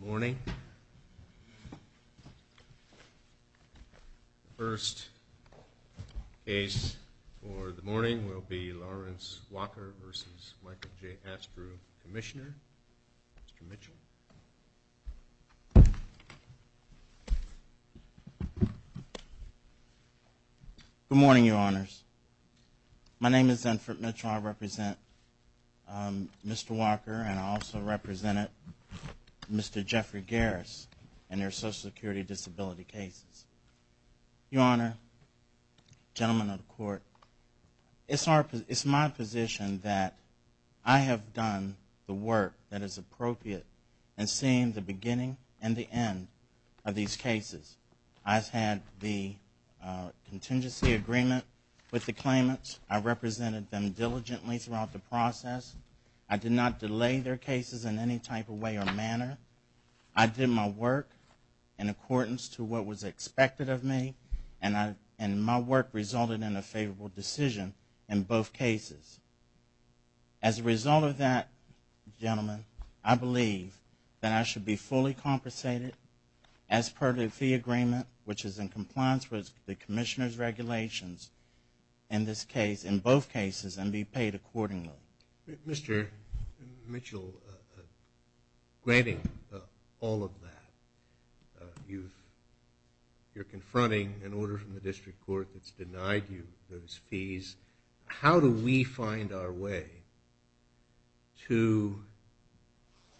Good morning. The first case for the morning will be Lawrence Walker v. Michael J. Astrue Commissioner Mitchell Good morning, your honors. My name is Zinfred Mitchell. I represent Mr. Walker and I also represented Mr. Jeffrey Garris and their social security disability cases. Your honor, gentlemen of the court, it's my position that I have done the work that is appropriate in seeing the beginning and the end of these cases. I've had the contingency agreement with the claimants. I represented them diligently throughout the process. I did not delay their cases in any type of way or manner. I did my work in accordance to what was expected of me and my work resulted in a favorable decision in both cases. As a result of that, gentlemen, I believe that I should be fully compensated as per the fee agreement which is in compliance with the Commissioner's regulations in both cases and be paid accordingly. Mr. Mitchell, granting all of that, you're confronting an order from the district court that's denied you those fees. How do we find our way to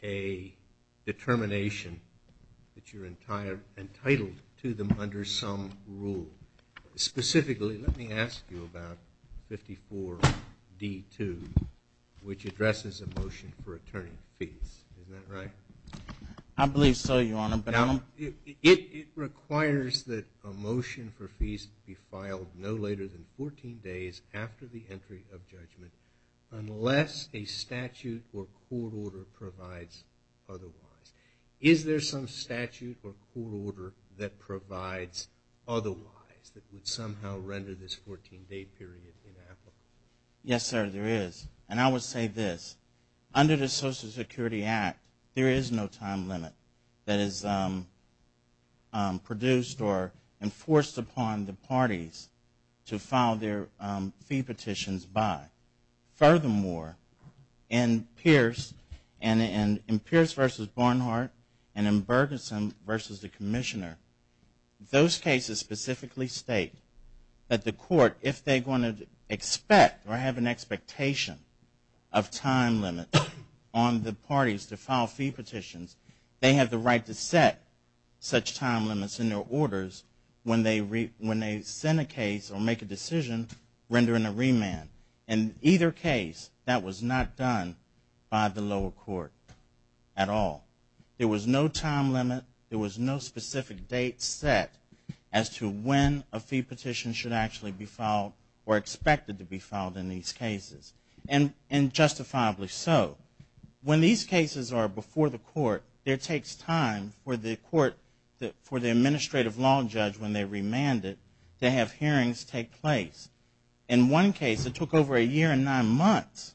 a determination that you're entitled to them under some rule? Specifically, let me ask you about 54D2 which addresses a motion for returning fees. Is that right? I believe so, your honor. It requires that a motion for fees be filed no later than 14 days after the entry of judgment unless a statute or court order provides otherwise. Is there some statute or court order that provides otherwise that would somehow render this 14-day period ineffable? Yes, sir, there is. And I would say this. Under the Social Security Act, there is no time limit that is produced or enforced upon the parties to file their fee petitions by. Furthermore, in Pierce v. Barnhart and in Bergeson v. the Commissioner, those cases specifically state that the court, if they want to expect or have an expectation of time limits on the parties to file fee petitions, they have the right to set such time limits in their orders when they send a case or make a decision rendering a remand. In either case, that was not done by the lower court at all. There was no time limit. There was no specific date set as to when a fee petition should actually be filed or expected to be filed in these cases. And justifiably so. When these cases are before the court, it takes time for the administrative law judge, when they remand it, to have hearings take place. In one case, it took over a year and nine months,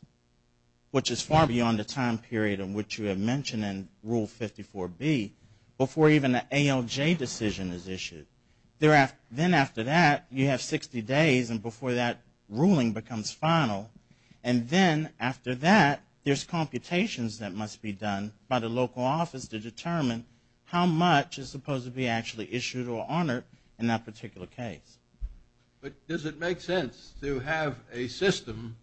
which is far beyond the time period in which you have mentioned in Rule 54B, before even the ALJ decision is issued. Then after that, you have 60 days and before that ruling becomes final. And then after that, there's computations that must be done by the local office to determine how much is supposed to be actually issued or honored in that particular case. But does it make sense to have a system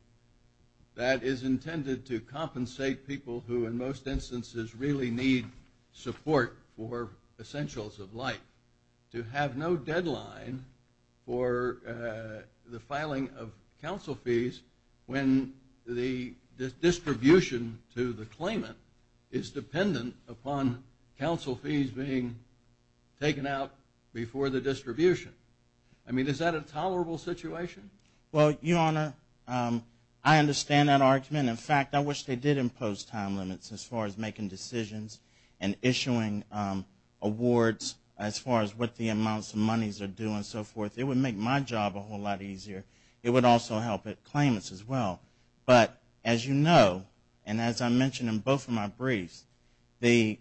that is intended to compensate people who, in most instances, really need support for essentials of life, to have no deadline for the filing of counsel fees when the distribution to the claimant is dependent upon counsel fees being taken out before the distribution? I mean, is that a tolerable situation? Well, Your Honor, I understand that argument. In fact, I wish they did impose time limits as far as making decisions and issuing awards as far as what the amounts of monies are due and so forth. It would make my job a whole lot easier. It would also help claimants as well. But as you know, and as I mentioned in both of my briefs, the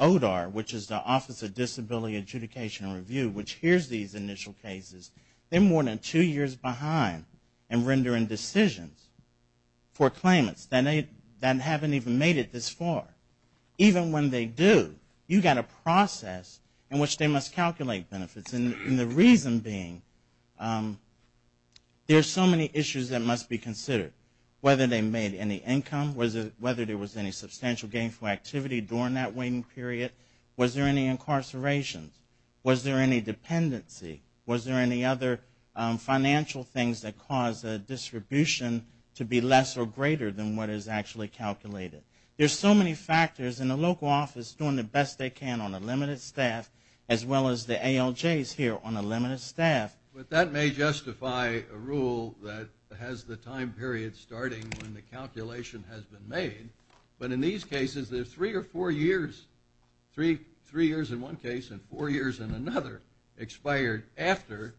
ODAR, which is the Office of Disability Adjudication and Review, which hears these initial cases, they're more than two years behind in rendering decisions for claimants that haven't even made it this far. Even when they do, you've got a process in which they must calculate benefits. And the reason being, there are so many issues that must be considered. Whether they made any income, whether there was any substantial gainful activity during that waiting period, was there any incarceration, was there any dependency, was there any other financial things that caused the distribution to be less or greater than what is actually calculated? There's so many factors, and the local office is doing the best they can on a limited staff, as well as the ALJs here on a limited staff. But that may justify a rule that has the time period starting when the calculation has been made. But in these cases, there's three or four years, three years in one case and four years in another, expired after,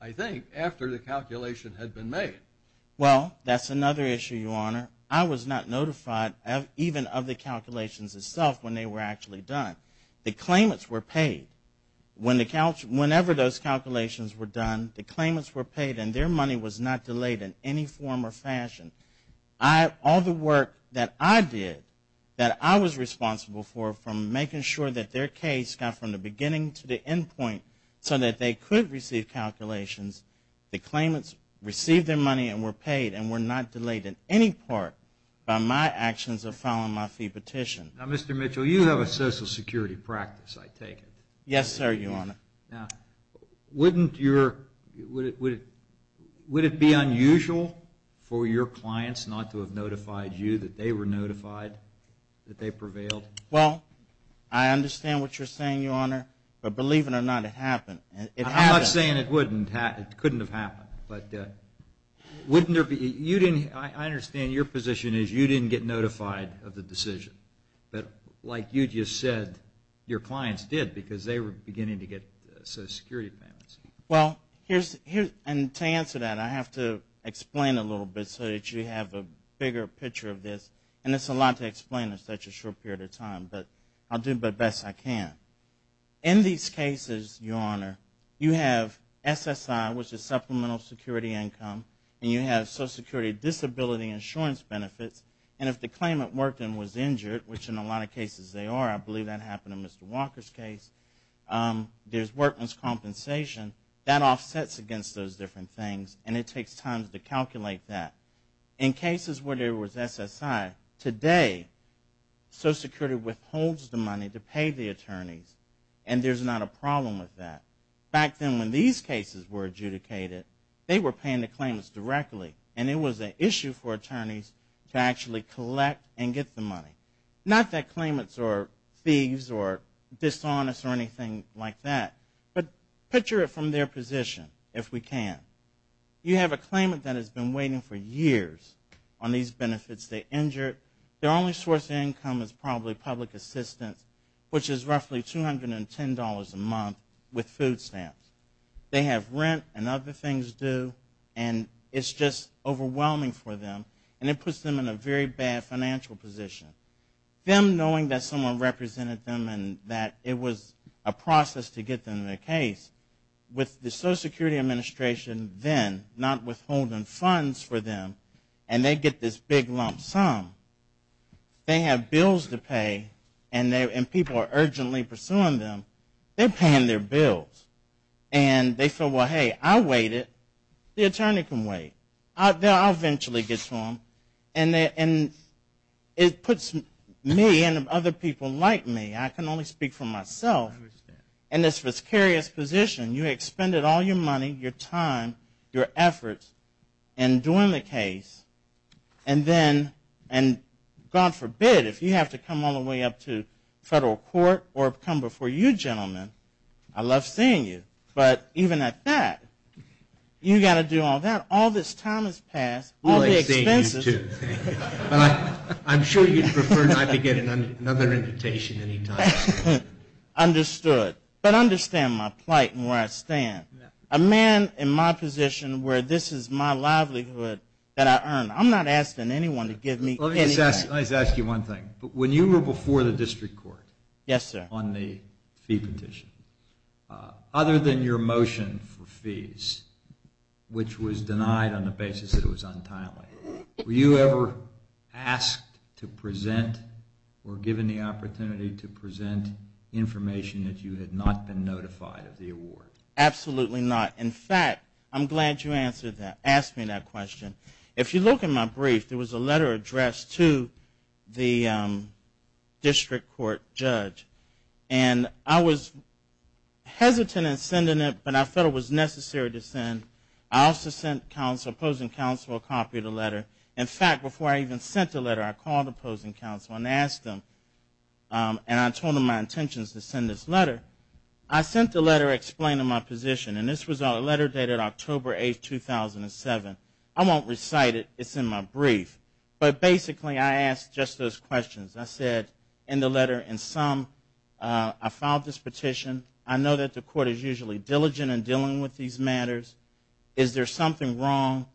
I think, after the calculation had been made. Well, that's another issue, Your Honor. I was not notified even of the calculations itself when they were actually done. The claimants were paid. Whenever those calculations were done, the claimants were paid and their money was not delayed in any form or fashion. All the work that I did, that I was responsible for, from making sure that their case got from the beginning to the end point so that they could receive calculations, the claimants received their money and were paid and were not delayed in any part by my actions of filing my fee petition. Now, Mr. Mitchell, you have a social security practice, I take it. Yes, sir, Your Honor. Now, wouldn't your – would it be unusual for your clients not to have notified you that they were notified, that they prevailed? Well, I understand what you're saying, Your Honor, but believe it or not, it happened. I'm not saying it couldn't have happened, but wouldn't there be – I understand your position is you didn't get notified of the decision, but like you just said, your clients did because they were beginning to get social security payments. Well, here's – and to answer that, I have to explain a little bit so that you have a bigger picture of this, and it's a lot to explain in such a short period of time, but I'll do the best I can. In these cases, Your Honor, you have SSI, which is supplemental security income, and you have social security disability insurance benefits, and if the claimant worked and was injured, which in a lot of cases they are, I believe that happened in Mr. Walker's case, there's workman's compensation, that offsets against those different things, and it takes time to calculate that. In cases where there was SSI, today social security withholds the money to pay the attorneys, and there's not a problem with that. Back then when these cases were adjudicated, they were paying the claimants directly, and it was an issue for attorneys to actually collect and get the money. Not that claimants are thieves or dishonest or anything like that, but picture it from their position, if we can. You have a claimant that has been waiting for years on these benefits, they're injured, their only source of income is probably public assistance, which is roughly $210 a month with food stamps. They have rent and other things due, and it's just overwhelming for them, and it puts them in a very bad financial position. Them knowing that someone represented them and that it was a process to get them in a case, with the Social Security Administration then not withholding funds for them, and they get this big lump sum, they have bills to pay, and people are urgently pursuing them, they're paying their bills. And they feel, well, hey, I waited, the attorney can wait, I'll eventually get to them. And it puts me and other people like me, I can only speak for myself, in this vicarious position. You expended all your money, your time, your efforts in doing the case, and then, and God forbid, if you have to come all the way up to federal court or come before you gentlemen, I love seeing you. But even at that, you've got to do all that, all this time has passed, all the expenses. I'm sure you'd prefer not to get another invitation any time soon. Understood. But understand my plight and where I stand. A man in my position where this is my livelihood that I earn, I'm not asking anyone to give me anything. Let me just ask you one thing. When you were before the district court on the fee petition, how did you feel? Other than your motion for fees, which was denied on the basis that it was untimely. Were you ever asked to present or given the opportunity to present information that you had not been notified of the award? Absolutely not. In fact, I'm glad you asked me that question. If you look in my brief, there was a letter addressed to the district court judge. And I was hesitant in sending it, but I felt it was necessary to send. I also sent opposing counsel a copy of the letter. In fact, before I even sent the letter, I called opposing counsel and asked them, and I told them my intentions to send this letter. I sent the letter explaining my position. And this was a letter dated October 8, 2007. I won't recite it. It's in my brief. But basically, I asked just those questions. I said, in the letter, in sum, I filed this petition. I know that the court is usually diligent in dealing with these matters. Is there something wrong?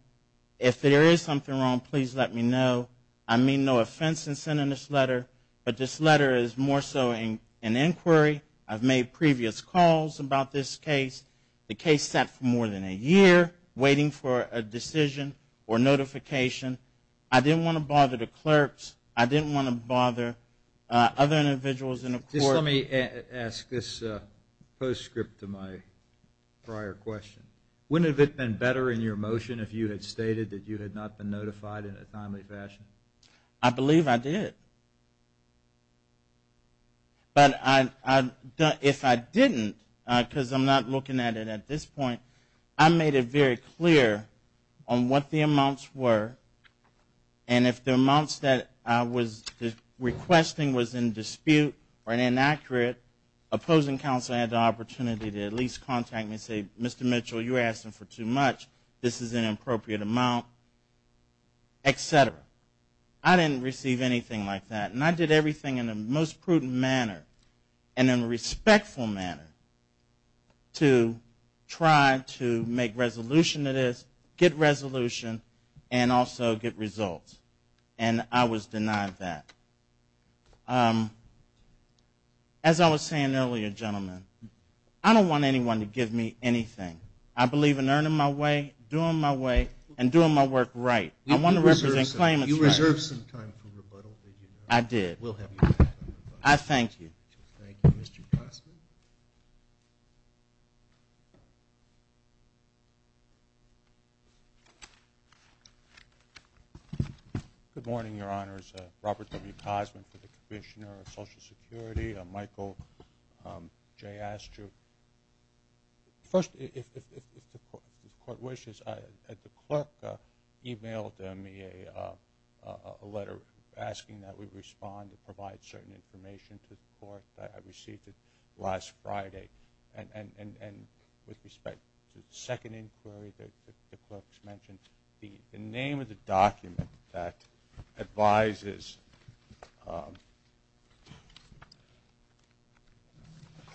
If there is something wrong, please let me know. I mean no offense in sending this letter, but this letter is more so an inquiry. I've made previous calls about this case. The case sat for more than a year, waiting for a decision or notification. I didn't want to bother the clerks. I didn't want to bother other individuals in the court. Just let me ask this postscript to my prior question. Wouldn't it have been better in your motion if you had stated that you had not been notified in a timely fashion? I believe I did. But if I didn't, because I'm not looking at it at this point, I made it very clear on what the amounts were. And if the amounts that I was requesting was in dispute or inaccurate, opposing counsel had the opportunity to at least contact me and say, Mr. Mitchell, you're asking for too much. This is an appropriate amount, etc. I didn't receive anything like that. And I did everything in the most prudent manner and in a respectful manner to try to make resolution to this, get resolution, and also get a resolution. And I was denied that. As I was saying earlier, gentlemen, I don't want anyone to give me anything. I believe in earning my way, doing my way, and doing my work right. I want to represent claimants right. Good morning, Your Honors. Robert W. Cozman for the Commissioner of Social Security. Michael J. Astrew. First, if the court wishes, the clerk emailed me a letter asking that we respond and provide certain information to the court that I received it last Friday. And with respect to the second inquiry that the clerk's mentioned, the name of the document is not mentioned in the document. The name of the document that advises a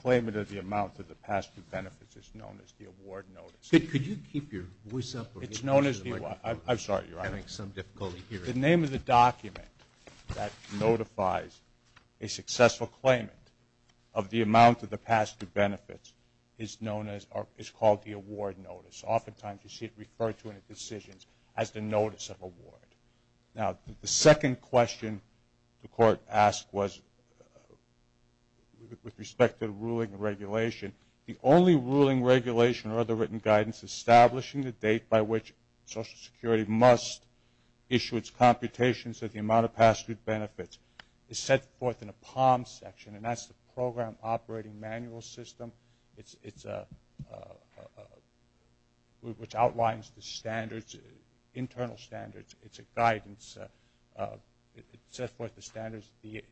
claimant of the amount of the past two benefits is known as the award notice. Could you keep your voice up? It's known as the award notice. I'm sorry, Your Honors. I'm having some difficulty hearing you. The name of the document that notifies a successful claimant of the amount of the past two benefits is known as the award notice. Oftentimes, you see it referred to in the decisions as the notice of award. Now, the second question the court asked was, with respect to the ruling and regulation, the only ruling, regulation, or other written guidance establishing the date by which Social Security must issue its computations of the amount of past two benefits is set forth in a POM section, and that's the Program Operating Manual System. Which outlines the standards, internal standards. It's a guidance. It sets forth the standards the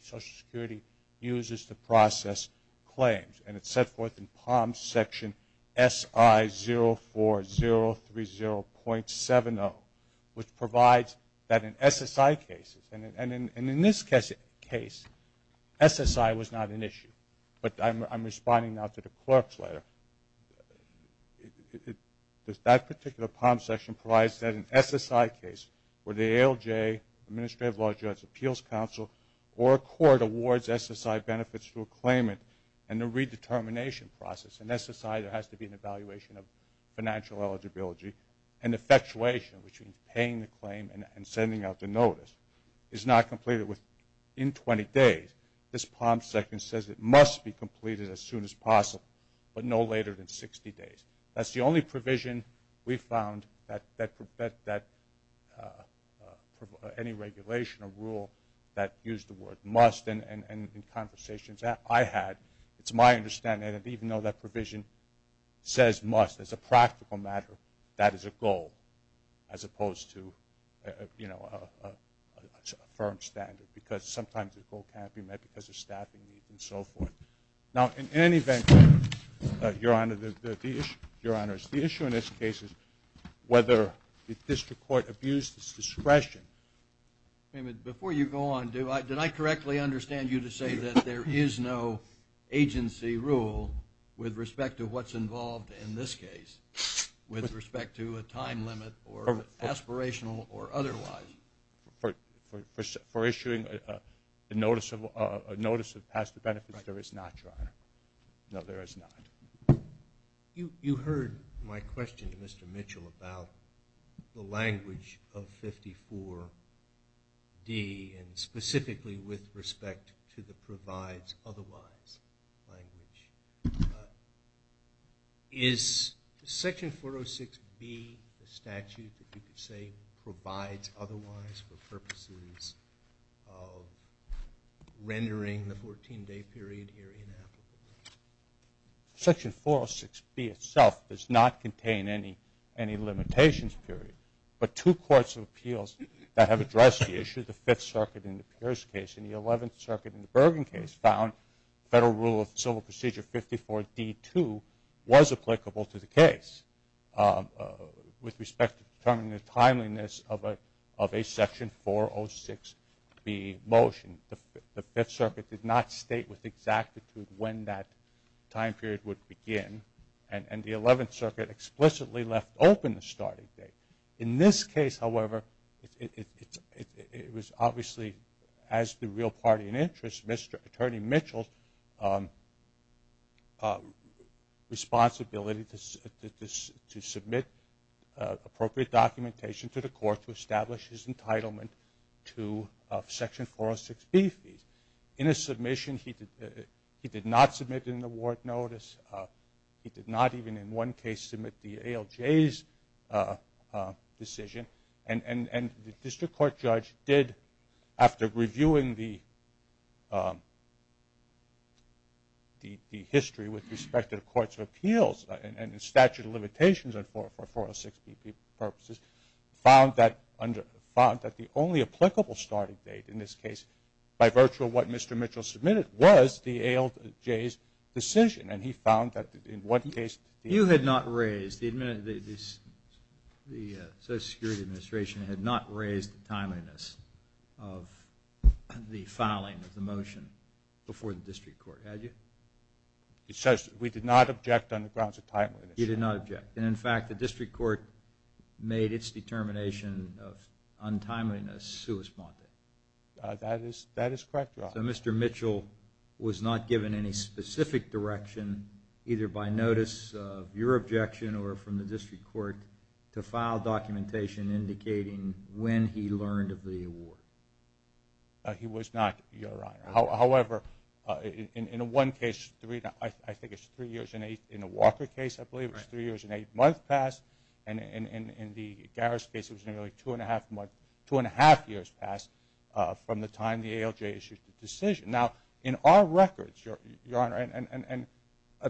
Social Security uses to process claims. And it's set forth in POM section SI04030.70, which provides that in SSI cases, and in this case, SSI was not an issue. But I'm responding now to the clerk's letter. That particular POM section provides that in SSI cases, where the ALJ, Administrative Law Judges Appeals Council, or a court awards SSI benefits to a claimant, and the redetermination process. In SSI, there has to be an evaluation of financial eligibility, and effectuation, which means paying the claim and sending out the notice, is not completed within 20 days. This POM section says it must be completed as soon as possible, but no later than 60 days. That's the only provision we found that any regulation or rule that used the word must, and in conversations I had, it's my understanding that even though that provision says must as a practical matter, that is a goal. As opposed to, you know, a firm standard, because sometimes a goal can't be met because of staffing needs and so forth. Now, in any event, Your Honor, the issue in this case is whether the district court abused its discretion. Before you go on, did I correctly understand you to say that there is no agency rule with respect to what's involved in this case? With respect to a time limit, or aspirational, or otherwise? For issuing a notice of past benefits, there is not, Your Honor. No, there is not. You heard my question to Mr. Mitchell about the language of 54D, and specifically with respect to the provides otherwise language. Is Section 406B a statute that you could say provides otherwise for purposes of rendering the 14-day period here inapplicable? Section 406B itself does not contain any limitations period, but two courts of appeals that have addressed the issue, the Fifth Circuit in the Pierce case and the Eleventh Circuit in the Bergen case, found Federal Rule of Civil Procedure 54D2 was applicable to the case. With respect to determining the timeliness of a Section 406B motion, the Fifth Circuit did not state with exactitude when that time period would begin, and the Eleventh Circuit explicitly left open the starting date. It was obviously, as the real party in interest, Mr. Attorney Mitchell's responsibility to submit appropriate documentation to the court to establish his entitlement to Section 406B fees. In his submission, he did not submit an award notice. He did not even in one case submit the ALJ's decision. And the District Court judge did, after reviewing the history with respect to the courts of appeals and the statute of limitations for 406B purposes, found that the only applicable starting date in this case, by virtue of what Mr. Mitchell submitted, was the ALJ's decision. And he found that in one case... It says we did not object on the grounds of timeliness. And the District Court judge made its determination of untimeliness sui sponte. That is correct, Your Honor. So Mr. Mitchell was not given any specific direction, either by notice of your objection or from the District Court, to file documentation indicating when he learned of the award? He was not, Your Honor. However, in one case, I think it's three years and eight... In the Walker case, I believe, it was three years and eight months past. And in the Garris case, it was nearly two and a half years past from the time the ALJ issued the decision. Now, in our records, Your Honor, and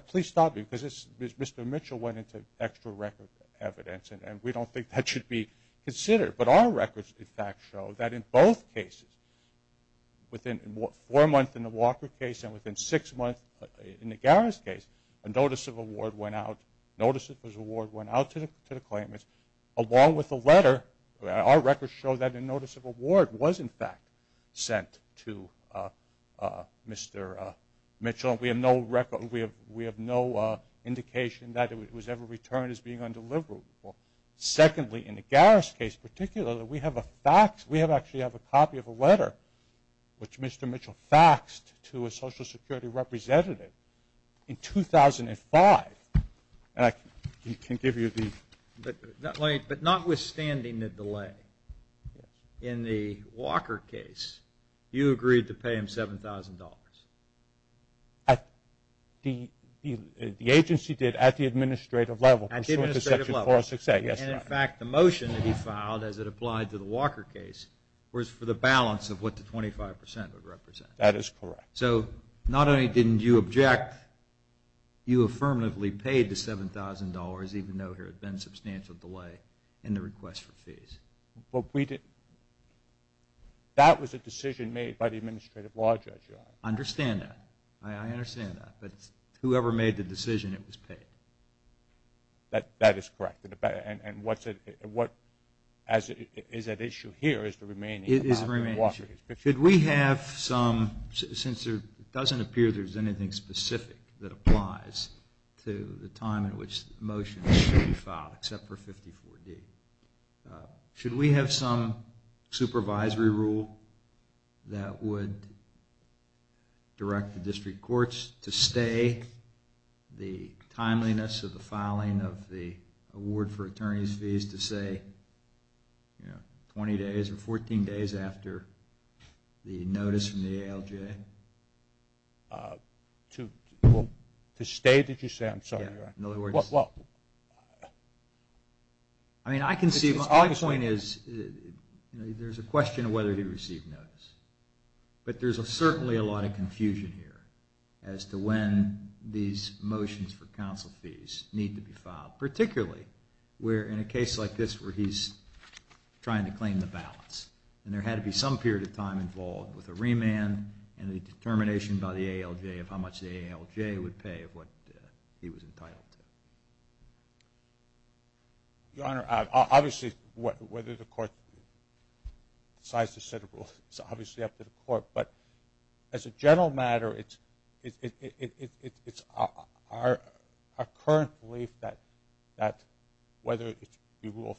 please stop me, because Mr. Mitchell went into extra record evidence, and we don't think that should be considered. But our records, in fact, show that in both cases, within four months in the Walker case and within six months in the Garris case, a notice of award went out. Notice of award went out to the claimants, along with a letter. Our records show that a notice of award was, in fact, sent to Mr. Mitchell. We have no indication that it was ever returned as being undeliverable. Secondly, in the Garris case in particular, we have a copy of a letter which Mr. Mitchell faxed to a Social Security representative in 2005. And I can give you the... But notwithstanding the delay, in the Walker case, you agreed to pay him $7,000? At the... The agency did, at the administrative level, pursuant to Section 406A, yes, Your Honor. And, in fact, the motion that he filed, as it applied to the Walker case, was for the balance of what the 25% would represent? That is correct. So, not only didn't you object, you affirmatively paid the $7,000, even though there had been substantial delay in the request for fees? Well, we didn't... That was a decision made by the administrative law judge, Your Honor. I understand that. I understand that. But whoever made the decision, it was paid. That is correct. And what... Is that issue here, or is the remaining in the Walker case? It is the remaining issue. Should we have some... Since it doesn't appear there's anything specific that applies to the time in which the motion should be filed, except for 54D. Should we have some supervisory rule that would direct the district courts to stay the timeliness of the filing of the award for attorney's fees, to say, you know, 20 days or 14 days after the notice from the ALJ? To stay, did you say? I'm sorry, Your Honor. In other words... I mean, I can see... My point is, there's a question of whether he received notice. But there's certainly a lot of confusion here as to when these motions for counsel fees need to be filed. Particularly, where in a case like this where he's trying to claim the balance, and there had to be some period of time involved with a remand, and the determination by the ALJ of how much the ALJ would pay of what he was entitled to. Your Honor, obviously, whether the court decides to set a rule is obviously up to the court. But as a general matter, it's our current belief that whether it be Rule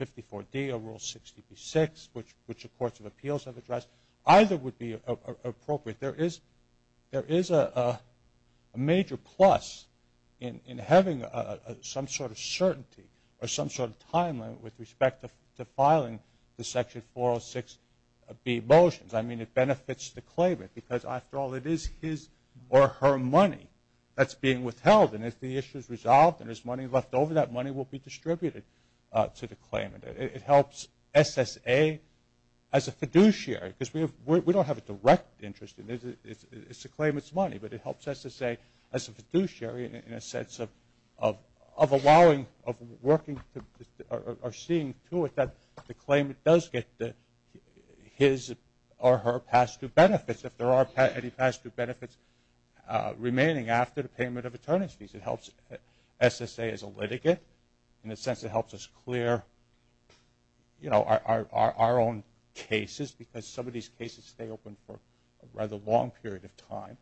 54D or Rule 60B6, which the courts of appeals have addressed, either would be appropriate. There is a major plus in having some sort of certainty or some sort of time limit with respect to filing the Section 406B motions. I mean, it benefits the claimant because, after all, it is his or her money that's being withheld. And if the issue is resolved and there's money left over, that money will be distributed to the claimant. It helps SSA as a fiduciary, because we don't have a direct interest in it. It's the claimant's money, but it helps SSA as a fiduciary in a sense of allowing, of working, or seeing to it that the claimant does get his or her past due benefits, if there are any past due benefits remaining after the payment of attorney's fees. It helps SSA as a litigate. In a sense, it helps us clear our own cases, because some of these cases stay open for a rather long period of time,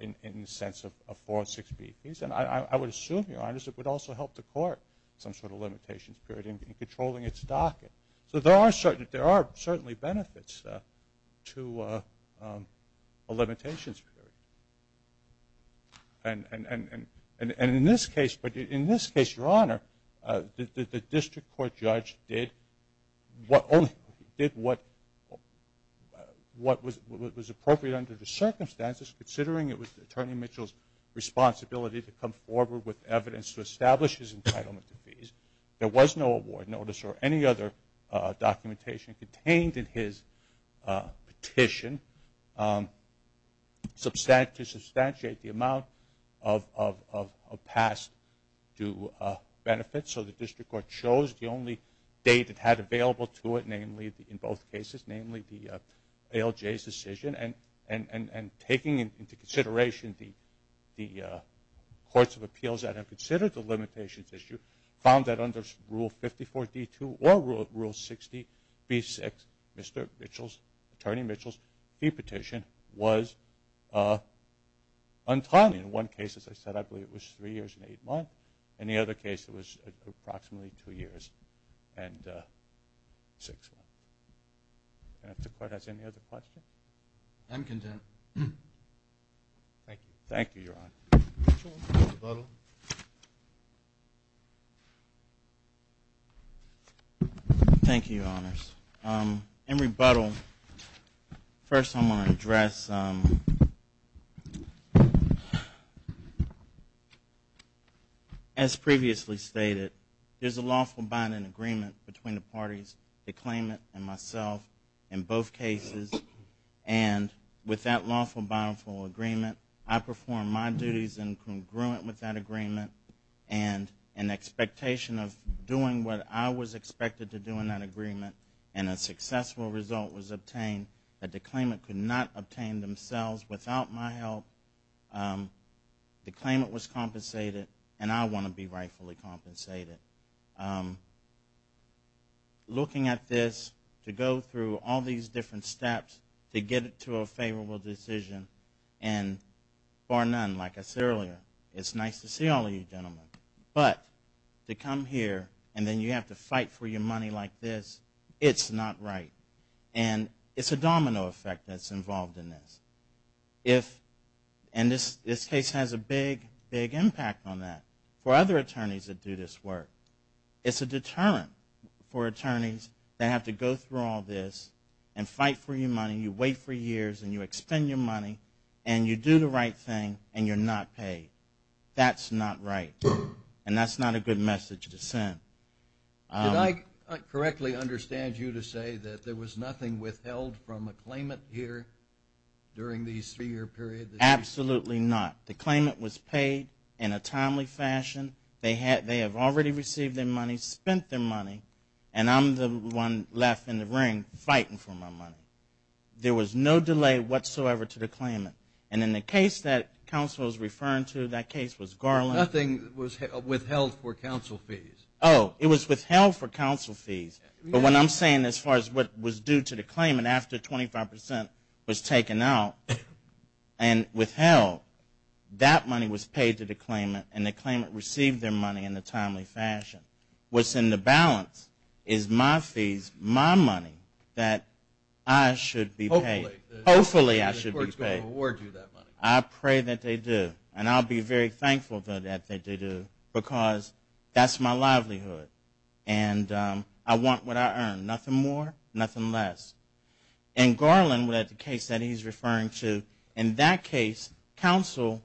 in the sense of 406B. And I would assume, Your Honor, it would also help the court, some sort of limitations period, in controlling its docket. So there are certainly benefits to a limitations period. And in this case, Your Honor, the district court judge did what was appropriate under the circumstances, considering it was Attorney Mitchell's responsibility to come forward with evidence to establish his entitlement to fees. There was no award notice or any other documentation contained in his petition. To substantiate the amount of past due benefits, so the district court chose the only date it had available to it, namely, in both cases, namely, the ALJ's decision. And taking into consideration the courts of appeals that have considered the limitations issue, found that under Rule 54D2 or Rule 60B6, Mr. Mitchell's, Attorney Mitchell's, fee petition was untimely. In one case, as I said, I believe it was three years and eight months. In the other case, it was approximately two years and six months. And if the court has any other questions? I'm content. Thank you. Thank you, Your Honor. Mitchell, rebuttal. Thank you, Your Honors. In rebuttal, first I'm going to address, as previously stated, there's a lawful binding agreement between the parties, the claimant and myself, in both cases. And with that lawful binding agreement, I performed my duties in congruent with that agreement and in expectation of doing what I was expected to do in that agreement. And a successful result was obtained. The claimant could not obtain themselves without my help. The claimant was compensated, and I want to be rightfully compensated. Looking at this, to go through all these different steps to get to a favorable decision, and bar none, like I said earlier, it's nice to see all of you gentlemen. But to come here and then you have to fight for your money like this, it's not right. And it's a domino effect that's involved in this. And this case has a big, big impact on that for other attorneys that do this work. It's a deterrent for attorneys that have to go through all this and fight for your money. You wait for years, and you expend your money, and you do the right thing, and you're not paid. That's not right. And that's not a good message to send. Did I correctly understand you to say that there was nothing withheld from a claimant here during the investigation? Absolutely not. The claimant was paid in a timely fashion. They have already received their money, spent their money, and I'm the one left in the ring fighting for my money. There was no delay whatsoever to the claimant. And in the case that counsel was referring to, that case was Garland. Nothing was withheld for counsel fees. Oh, it was withheld for counsel fees. But what I'm saying as far as what was due to the claimant after 25% was taken out and withheld, that money was paid to the claimant. And the claimant received their money in a timely fashion. What's in the balance is my fees, my money that I should be paid. Hopefully I should be paid. I pray that they do. And I'll be very thankful that they do, because that's my livelihood. And I want what I earn. Nothing more, nothing less. In Garland, the case that he's referring to, in that case, counsel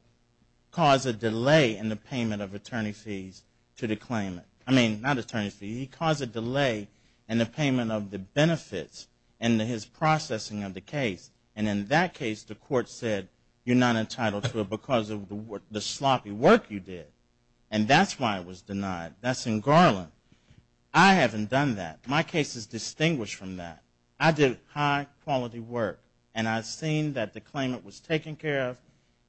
caused a delay in the payment of attorney fees to the claimant. I mean, not attorney fees, he caused a delay in the payment of the benefits in his processing of the case. And in that case, the court said, you're not entitled to it because of the sloppy work you did. And that's why it was denied. That's in Garland. I haven't done that. My case is distinguished from that. I did high-quality work and I've seen that the claimant was taken care of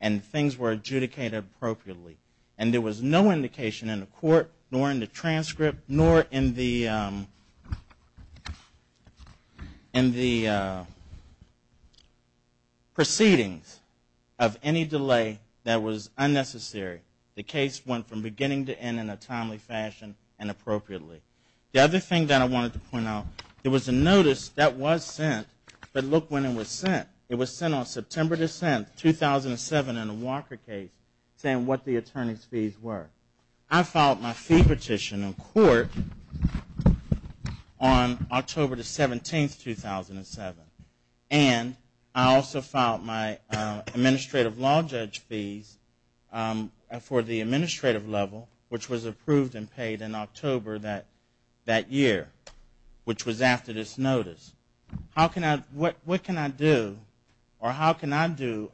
and things were adjudicated appropriately. And there was no indication in the court, nor in the transcript, nor in the... proceedings of any delay that was unnecessary. The case went from beginning to end in a timely fashion and appropriately. The other thing that I wanted to point out. There was a notice that was sent, but look when it was sent. It was sent on September 10th, 2007 in a Walker case saying what the attorney's fees were. I filed my fee petition in court on October 17, 2007, and I didn't get a notice. I also filed my administrative law judge fees for the administrative level, which was approved and paid in October that year, which was after this notice. How can I, what can I do or how can I do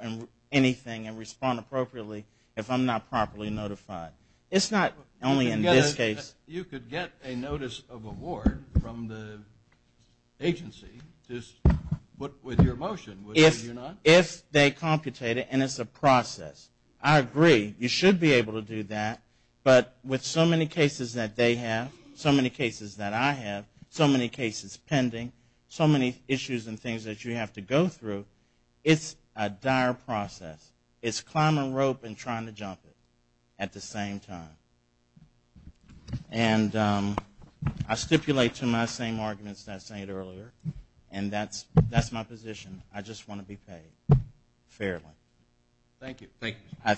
anything and respond appropriately if I'm not properly notified? It's not only in this case. You could get a notice of award from the agency just with your motion, but you can't get a notice of award. If they computate it and it's a process. I agree, you should be able to do that, but with so many cases that they have, so many cases that I have, so many cases pending, so many issues and things that you have to go through, it's a dire process. It's climbing a rope and trying to jump it at the same time. And I stipulate to my same arguments that I stated earlier, and that's my position. I just want to make sure that you understand. I just want to be paid fairly.